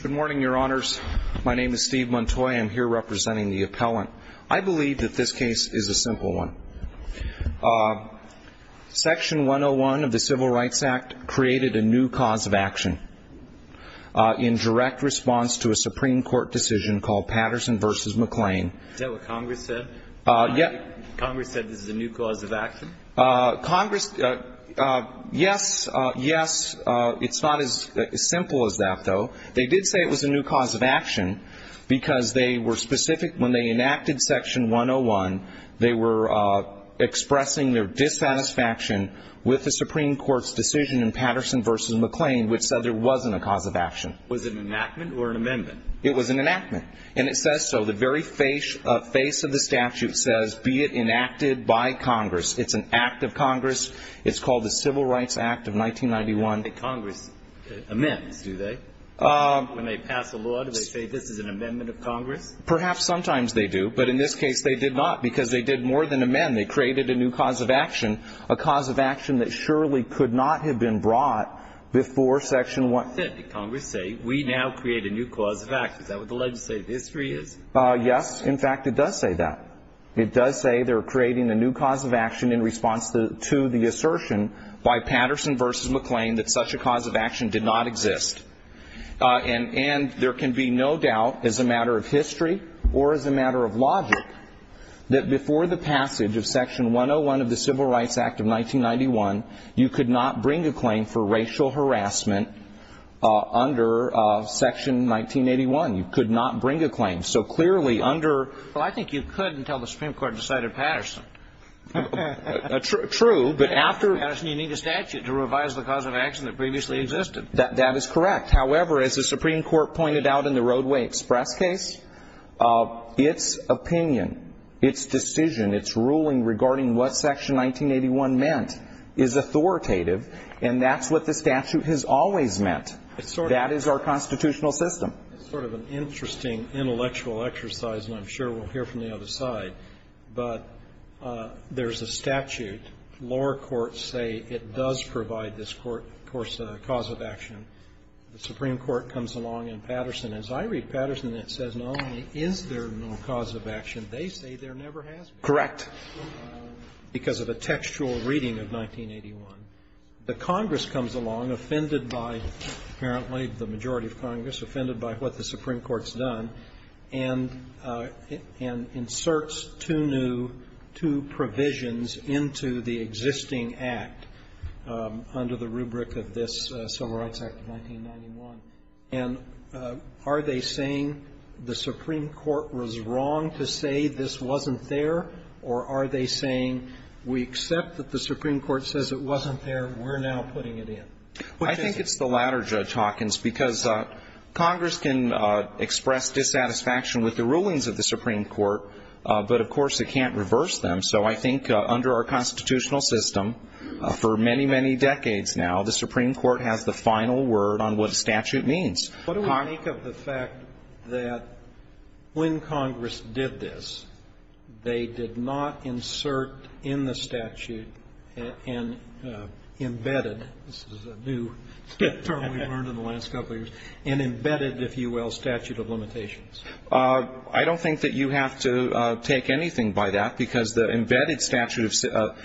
Good morning, your honors. My name is Steve Montoy. I'm here representing the appellant. I believe that this case is a simple one. Section 101 of the Civil Rights Act created a new cause of action in direct response to a Supreme Court decision called Patterson v. McClain. Is that what Congress said? Yes. Congress, yes, yes, it's not as simple as that though. They did say it was a new cause of action because they were specific when they enacted Section 101, they were expressing their dissatisfaction with the Supreme Court's decision in Patterson v. McClain which said there wasn't a cause of action. Was it an enactment or an amendment? It was an enactment. And it says so. The very face of the statute says be it enacted by Congress. It's an act of Congress. It's called the Civil Rights Act of 1991. Congress amends, do they? When they pass a law, do they say this is an amendment of Congress? Perhaps sometimes they do, but in this case they did not because they did more than amend. They created a new cause of action, a cause of action that surely could not have been brought before Section 101. That's not authentic. Congress say we now create a new cause of action. Is that what the legislative history is? Yes. In fact, it does say that. It does say they're creating a new cause of action in response to the assertion by Patterson v. McClain that such a cause of action did not exist. And there can be no doubt as a matter of history or as a matter of logic that before the passage of Section 101 of the Civil Rights Act of 1991, you could not bring a claim for racial harassment under Section 1981. You could not bring a claim. So clearly under – Well, I think you could until the Supreme Court decided Patterson. True, but after – Patterson, you need a statute to revise the cause of action that previously existed. That is correct. However, as the Supreme Court pointed out in the Roadway Express case, its opinion, its decision, its ruling regarding what Section 1981 meant is authoritative, and that's what the statute has always meant. That is our constitutional system. It's sort of an interesting intellectual exercise, and I'm sure we'll hear from the other side, but there's a statute. Lower courts say it does provide this cause of action. The Supreme Court comes along in Patterson. As I read Patterson, it says not only is there no cause of action, they say there never has been. Correct. Because of a textual reading of 1981. The Congress comes along, offended by apparently the majority of Congress, offended by what the Supreme Court's done, and inserts two new, two provisions into the existing act under the rubric of this Civil Rights Act of 1991. And are they saying the Supreme Court was wrong to say this wasn't there, or are they saying we accept that the Supreme Court says it wasn't there, we're now putting it in? I think it's the latter, Judge Hawkins, because Congress can express dissatisfaction with the rulings of the Supreme Court, but, of course, it can't reverse them. So I think under our constitutional system, for many, many decades now, the Supreme Court has the final word on what a statute means. What do we think of the fact that when Congress did this, they did not insert in the statute an embedded this is a new term we've learned in the last couple of years, an embedded, if you will, statute of limitations? I don't think that you have to take anything by that, because the embedded statute of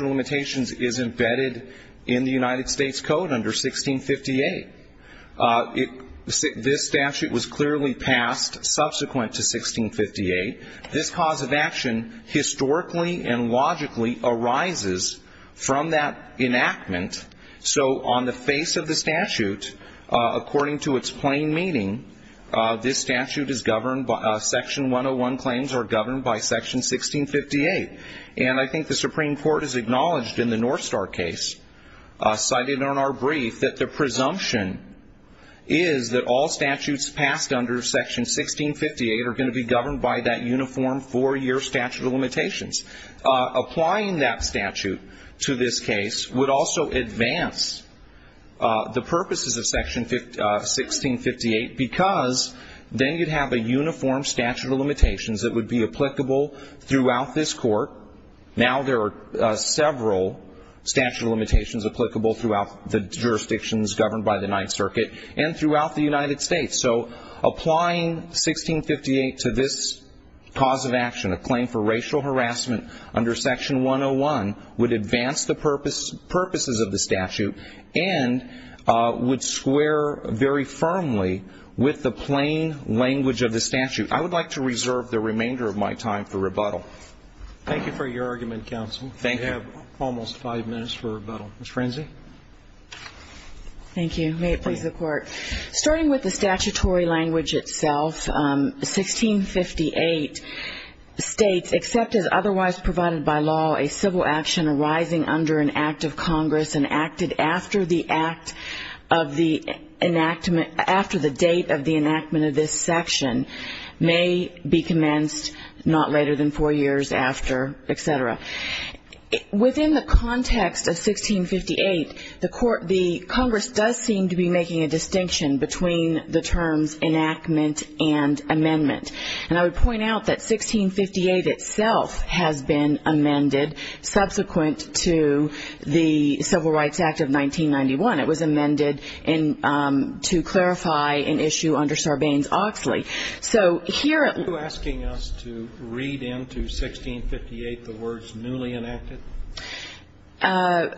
limitations is embedded in the United States Code under 1658. This statute was clearly passed subsequent to 1658. This cause of action historically and logically arises from that enactment. So on the face of the statute, according to its plain meaning, this statute is governed by section 101 claims are governed by section 1658. And I think the Supreme Court has acknowledged in the North Star case, cited in our brief, that the presumption is that all States have a uniform four-year statute of limitations. Applying that statute to this case would also advance the purposes of section 1658, because then you'd have a uniform statute of limitations that would be applicable throughout this Court. Now there are several statute of limitations applicable throughout the jurisdictions governed by the Ninth Circuit and throughout the United States. So applying 1658 to this cause of action, a claim for racial harassment under section 101, would advance the purposes of the statute and would square very firmly with the plain language of the statute. I would like to reserve the remainder of my time for rebuttal. Thank you for your argument, counsel. Thank you. We have almost five minutes for rebuttal. Ms. Frenzy? Thank you. May it please the Court. Starting with the statutory language itself, 1658 states, except as otherwise provided by law, a civil action arising under an act of Congress enacted after the date of the enactment of this section may be commenced not later than four years after, et cetera. Within the context of 1658, the Congress does seem to be making a distinction between the terms enactment and amendment. And I would point out that 1658 itself has been amended subsequent to the Civil Rights Act of 1991. It was amended to clarify an issue under Sarbanes-Oxley. So here Are you asking us to read into 1658 the words newly enacted? I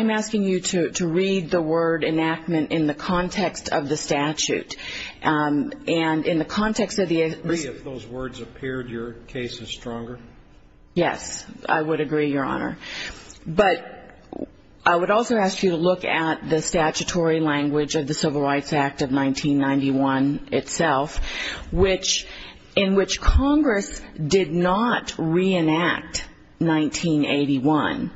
am asking you to read the word enactment in the context of the statute. And in the context of the Would you agree if those words appeared your cases stronger? Yes. I would agree, Your Honor. But I would also ask you to look at the statutory language of the Civil Rights Act of 1991 itself, in which Congress did not reenact 1981.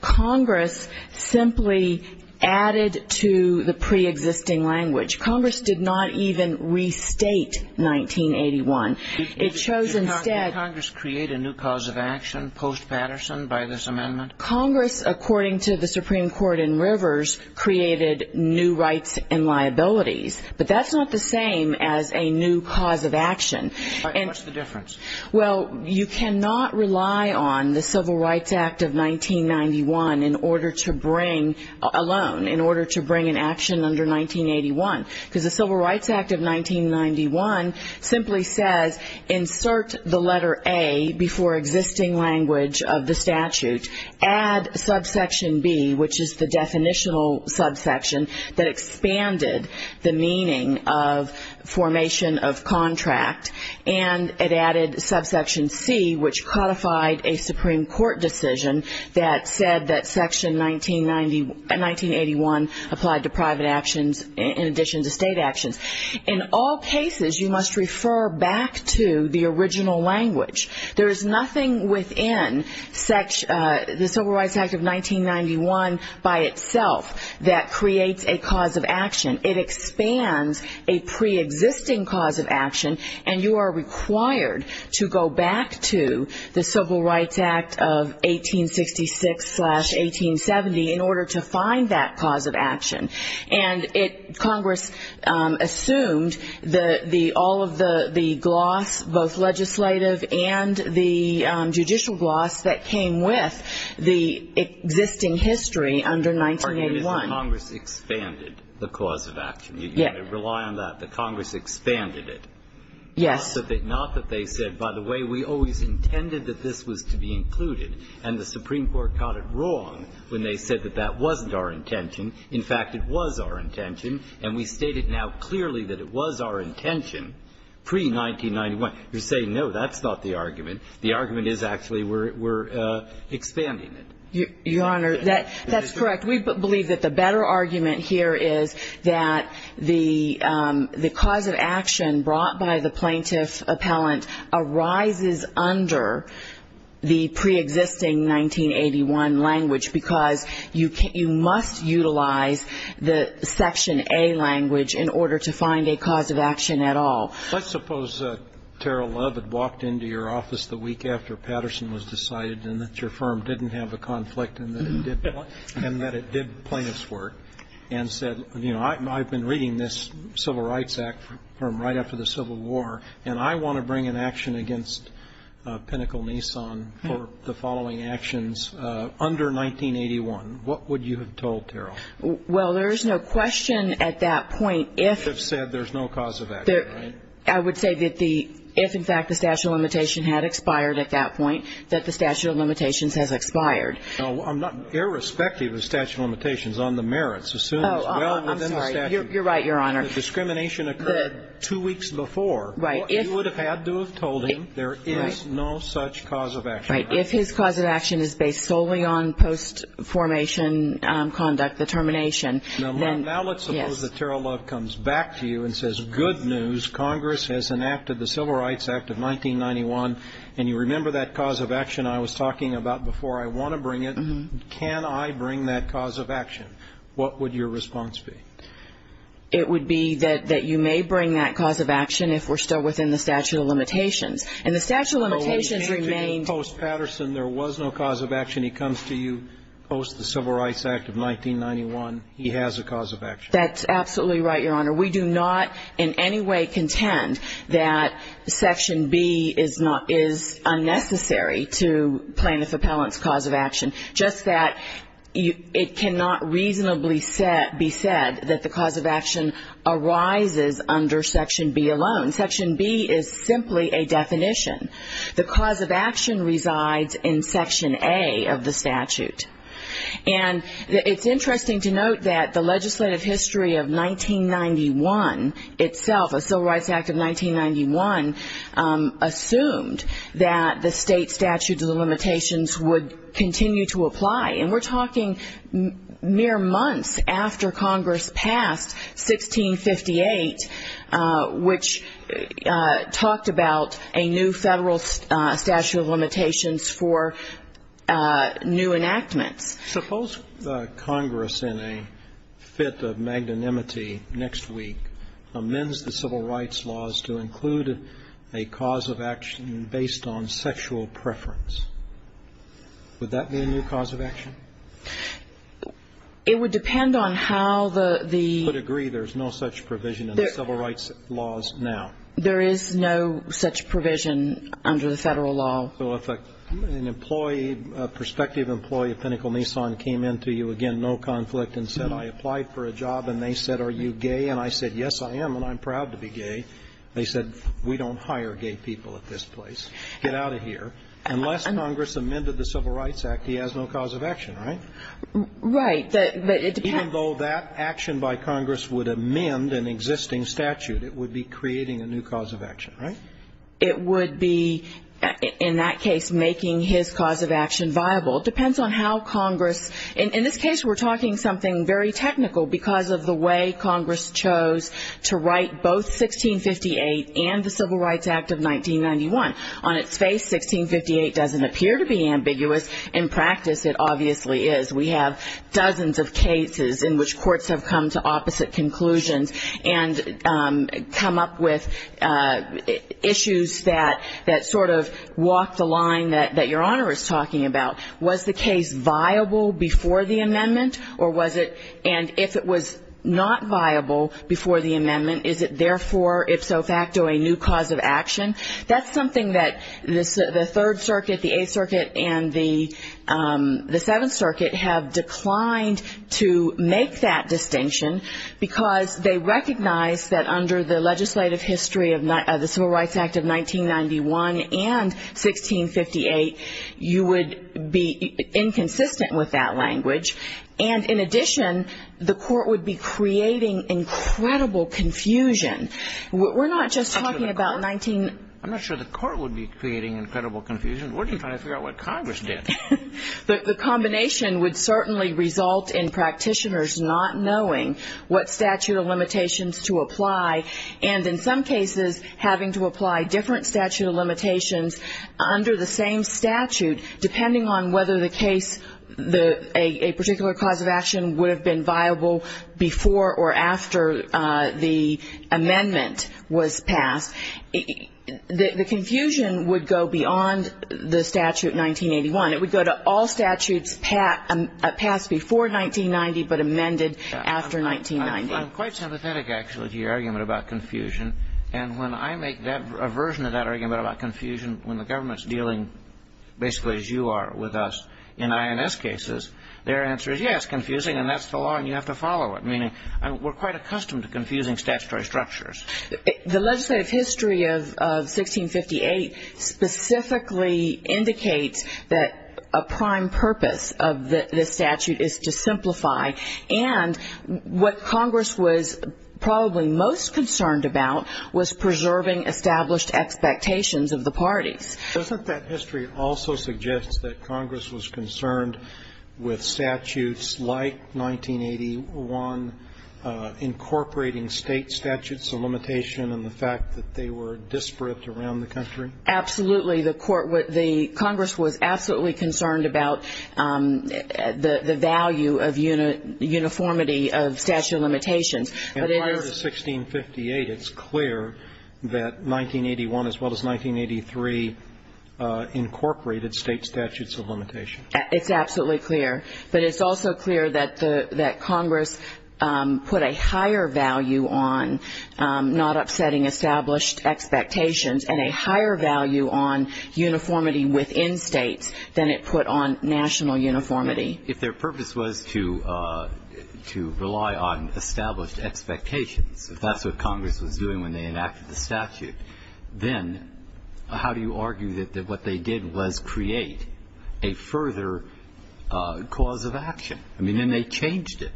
Congress simply added to the preexisting language. Congress did not even restate 1981. It shows instead Did Congress create a new cause of action post-Patterson by this amendment? Congress, according to the Supreme Court in Rivers, created new rights and liabilities. But that's not the same as a new cause of action. All right. What's the difference? Well, you cannot rely on the Civil Rights Act of 1991 alone in order to bring an action under 1981. Because the Civil Rights Act of 1991 simply says insert the letter A before existing language of the statute, add subsection B, which is the definitional subsection that expanded the meaning of formation of contract, and it added subsection C, which codified a Supreme Court decision that said that section 1981 applied to private actions in addition to state actions. In all cases, you must refer back to the original language. There is nothing within the Civil Rights Act of 1991 by itself that creates a cause of action. It expands a preexisting cause of action, and you are required to go back to the Civil Rights Act of 1866-1870 in order to find that cause of action. And Congress assumed all of the gloss, both legislative and the judicial gloss, that came with the existing history under 1981. Our view is that Congress expanded the cause of action. You've got to rely on that, that Congress expanded it. Yes. Not that they said, by the way, we always intended that this was to be included, and the Supreme Court got it wrong when they said that that wasn't our intention. In fact, it was our intention, and we state it now clearly that it was our intention pre-1991. You're saying, no, that's not the argument. The argument is actually we're expanding it. Your Honor, that's correct. We believe that the better argument here is that the cause of action brought by the plaintiff-appellant arises under the preexisting 1981 language because you must utilize the Section A language in order to find a cause of action at all. Let's suppose Tara Love had walked into your office the week after Patterson was decided and that your firm didn't have a conflict and that it did plaintiff's work and said, you know, I've been reading this Civil Rights Act from right after the Civil War, and I want to bring an action against Pinnacle-Nissan for the following actions under 1981. What would you have told Tara? Well, there is no question at that point if the statute of limitations had expired at that point that the statute of limitations has expired. Now, I'm not irrespective of the statute of limitations on the merits. Oh, I'm sorry. You're right, Your Honor. The discrimination occurred two weeks before. Right. What you would have had to have told him, there is no such cause of action. Right. If his cause of action is based solely on post-formation conduct, the termination, then, yes. Now let's suppose that Tara Love comes back to you and says, good news, Congress has enacted the Civil Rights Act of 1991, and you remember that cause of action I was talking about before. I want to bring it. Can I bring that cause of action? What would your response be? It would be that you may bring that cause of action if we're still within the statute of limitations. And the statute of limitations remained. Post-Patterson, there was no cause of action. He comes to you post the Civil Rights Act of 1991. He has a cause of action. That's absolutely right, Your Honor. We do not in any way contend that Section B is unnecessary to plaintiff appellant's cause of action. Just that it cannot reasonably be said that the cause of action arises under Section B alone. Section B is simply a definition. The cause of action resides in Section A of the statute. And it's interesting to note that the legislative history of 1991 itself, the Civil Rights Act of 1991, assumed that the state statute of limitations would continue to apply. And we're talking mere months after Congress passed 1658, which talked about a new federal statute of limitations for new enactments. Suppose Congress, in a fit of magnanimity next week, amends the civil rights laws to include a cause of action based on sexual preference. Would that be a new cause of action? It would depend on how the ---- I would agree there's no such provision in the civil rights laws now. There is no such provision under the federal law. So if an employee, a prospective employee of Pinnacle Nissan came in to you, again, no conflict, and said, I applied for a job, and they said, are you gay? And I said, yes, I am, and I'm proud to be gay. They said, we don't hire gay people at this place. Get out of here. Unless Congress amended the Civil Rights Act, he has no cause of action, right? Right. But it depends ---- Even though that action by Congress would amend an existing statute, it would be creating a new cause of action, right? It would be, in that case, making his cause of action viable. It depends on how Congress ---- In this case, we're talking something very technical because of the way Congress chose to write both 1658 and the Civil Rights Act of 1991. On its face, 1658 doesn't appear to be ambiguous. In practice, it obviously is. We have dozens of cases in which courts have come to opposite conclusions and come up with issues that sort of walk the line that Your Honor is talking about. Was the case viable before the amendment, or was it ---- And if it was not viable before the amendment, is it therefore ipso facto a new cause of action? That's something that the Third Circuit, the Eighth Circuit, and the Seventh Circuit have declined to make that distinction because they recognize that under the legislative history of the Civil Rights Act of 1991 and 1658, you would be inconsistent with that language. And in addition, the court would be creating incredible confusion. We're not just talking about 19 ---- I'm not sure the court would be creating incredible confusion. We're just trying to figure out what Congress did. The combination would certainly result in practitioners not knowing what statute of limitations to apply, and in some cases having to apply different statute of limitations under the same statute, depending on whether the case, a particular cause of action, would have been viable before or after the amendment was passed. The confusion would go beyond the statute in 1981. It would go to all statutes passed before 1990 but amended after 1990. I'm quite sympathetic, actually, to your argument about confusion. And when I make a version of that argument about confusion when the government's dealing basically as you are with us in INS cases, their answer is, yes, confusing, and that's the law, and you have to follow it, meaning we're quite accustomed to confusing statutory structures. The legislative history of 1658 specifically indicates that a prime purpose of the statute is to simplify, and what Congress was probably most concerned about was preserving established expectations of the parties. Doesn't that history also suggest that Congress was concerned with statutes like 1981 incorporating state statutes of limitation and the fact that they were disparate around the country? Absolutely. The Congress was absolutely concerned about the value of uniformity of statute of limitations. Prior to 1658, it's clear that 1981 as well as 1983 incorporated state statutes of limitation. It's absolutely clear. But it's also clear that Congress put a higher value on not upsetting established expectations and a higher value on uniformity within states than it put on national uniformity. If their purpose was to rely on established expectations, if that's what Congress was doing when they enacted the statute, then how do you argue that what they did was create a further cause of action? I mean, then they changed it.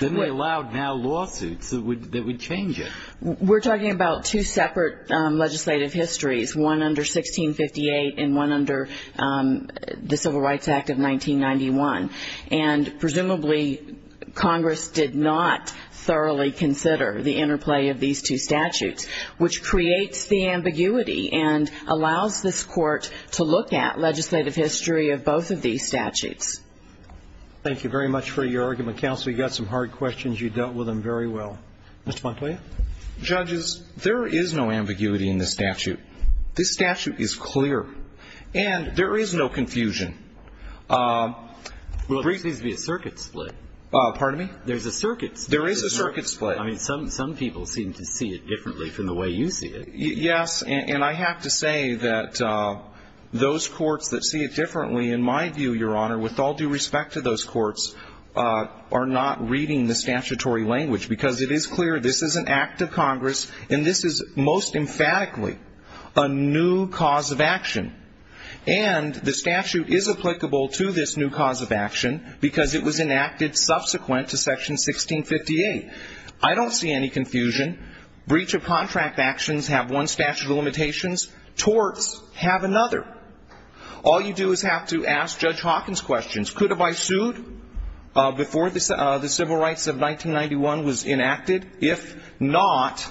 Then they allowed now lawsuits that would change it. We're talking about two separate legislative histories, one under 1658 and one under the Civil Rights Act of 1991. And presumably Congress did not thoroughly consider the interplay of these two statutes, which creates the ambiguity and allows this Court to look at legislative history of both of these statutes. Thank you very much for your argument, counsel. You got some hard questions. You dealt with them very well. Mr. Montoya? Judges, there is no ambiguity in this statute. This statute is clear. And there is no confusion. Well, there seems to be a circuit split. Pardon me? There's a circuit split. There is a circuit split. I mean, some people seem to see it differently from the way you see it. Yes. And I have to say that those courts that see it differently, in my view, Your Honor, with all due respect to those courts, are not reading the statutory language, because it is clear this is an act of Congress, and this is most emphatically a new cause of action. And the statute is applicable to this new cause of action because it was enacted subsequent to Section 1658. I don't see any confusion. Breach of contract actions have one statute of limitations. Torts have another. All you do is have to ask Judge Hawkins questions. Could have I sued before the Civil Rights of 1991 was enacted? If not,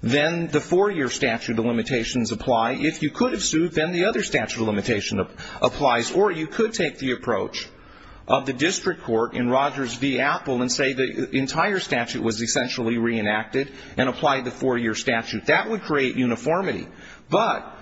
then the four-year statute of limitations apply. If you could have sued, then the other statute of limitations applies. Or you could take the approach of the district court in Rogers v. Apple and say the entire statute was essentially reenacted and apply the four-year statute. That would create uniformity. But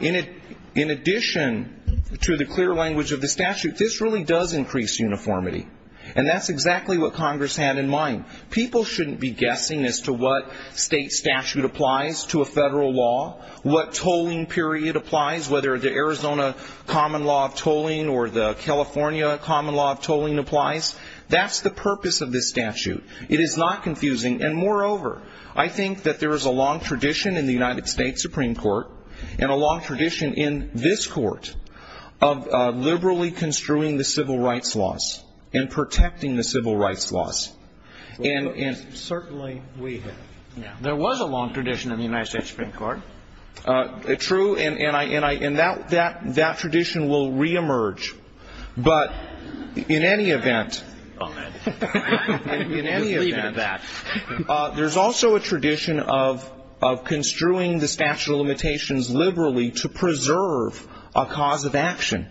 in addition to the clear language of the statute, this really does increase uniformity, and that's exactly what Congress had in mind. People shouldn't be guessing as to what state statute applies to a federal law, what tolling period applies, whether the Arizona common law of tolling or the California common law of tolling applies. That's the purpose of this statute. It is not confusing. And, moreover, I think that there is a long tradition in the United States Supreme Court and a long tradition in this Court of liberally construing the civil rights laws and protecting the civil rights laws. And certainly we have. There was a long tradition in the United States Supreme Court. True. And that tradition will reemerge. But in any event, in any event, there's also a tradition of construing the statute of limitations liberally to preserve a cause of action.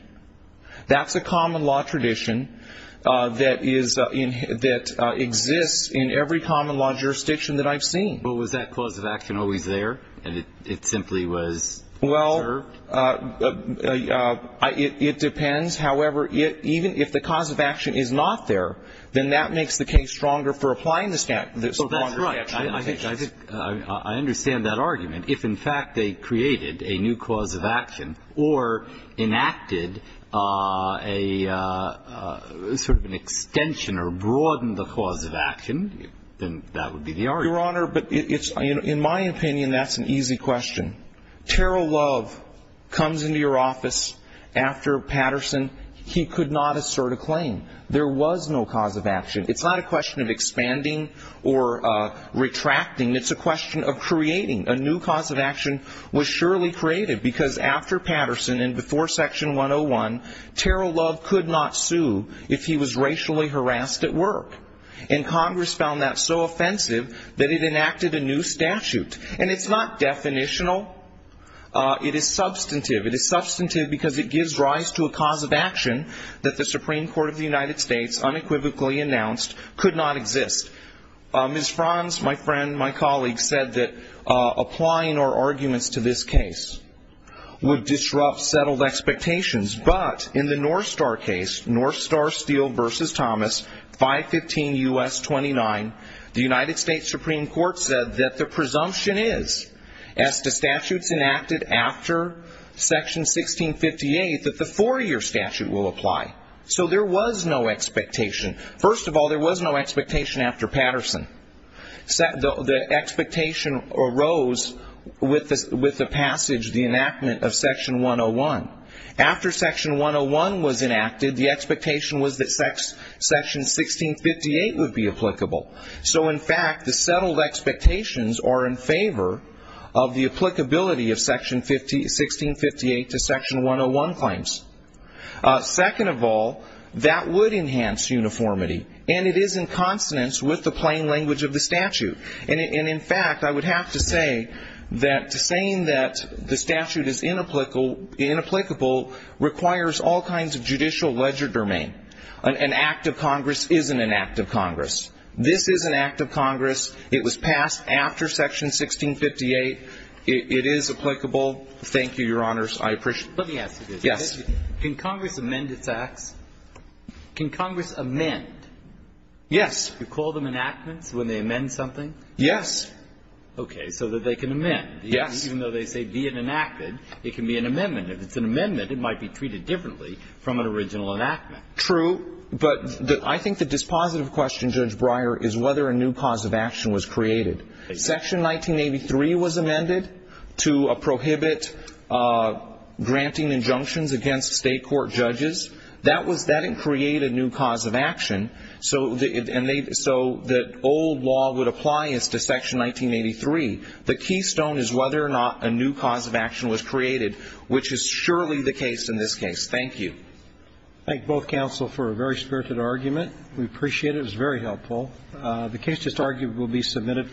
That's a common law tradition that exists in every common law jurisdiction that I've seen. But was that cause of action always there, and it simply was preserved? Well, it depends. However, even if the cause of action is not there, then that makes the case stronger for applying the statute. Oh, that's right. I understand that argument. If, in fact, they created a new cause of action or enacted a sort of an extension or broadened the cause of action, then that would be the argument. Your Honor, in my opinion, that's an easy question. Terrell Love comes into your office after Patterson. He could not assert a claim. There was no cause of action. It's not a question of expanding or retracting. It's a question of creating a new cause of action was surely created because after Patterson and before Section 101, Terrell Love could not sue if he was racially harassed at work. And Congress found that so offensive that it enacted a new statute. And it's not definitional. It is substantive. It is substantive because it gives rise to a cause of action that the Supreme Court of the United States unequivocally announced could not exist. Ms. Franz, my friend, my colleague, said that applying our arguments to this case would disrupt settled expectations. But in the North Star case, North Star Steele v. Thomas, 515 U.S. 29, the United States Supreme Court said that the presumption is, as to statutes enacted after Section 1658, that the four-year statute will apply. So there was no expectation. First of all, there was no expectation after Patterson. The expectation arose with the passage, the enactment of Section 101. After Section 101 was enacted, the expectation was that Section 1658 would be applicable. So, in fact, the settled expectations are in favor of the applicability of Section 1658 to Section 101 claims. Second of all, that would enhance uniformity. And it is in consonance with the plain language of the statute. And, in fact, I would have to say that saying that the statute is inapplicable requires all kinds of judicial ledger domain. An act of Congress isn't an act of Congress. This is an act of Congress. It was passed after Section 1658. Thank you, Your Honors. I appreciate it. Let me ask you this. Yes. Can Congress amend its acts? Can Congress amend? Yes. You call them enactments when they amend something? Yes. Okay. So that they can amend. Yes. Even though they say be it enacted, it can be an amendment. If it's an amendment, it might be treated differently from an original enactment. True. But I think the dispositive question, Judge Breyer, is whether a new cause of action was created. Section 1983 was amended to prohibit granting injunctions against state court judges. That didn't create a new cause of action. So the old law would apply as to Section 1983. The keystone is whether or not a new cause of action was created, which is surely the case in this case. Thank you. Thank both counsel for a very spirited argument. We appreciate it. It was very helpful. The case, it's argued, will be submitted.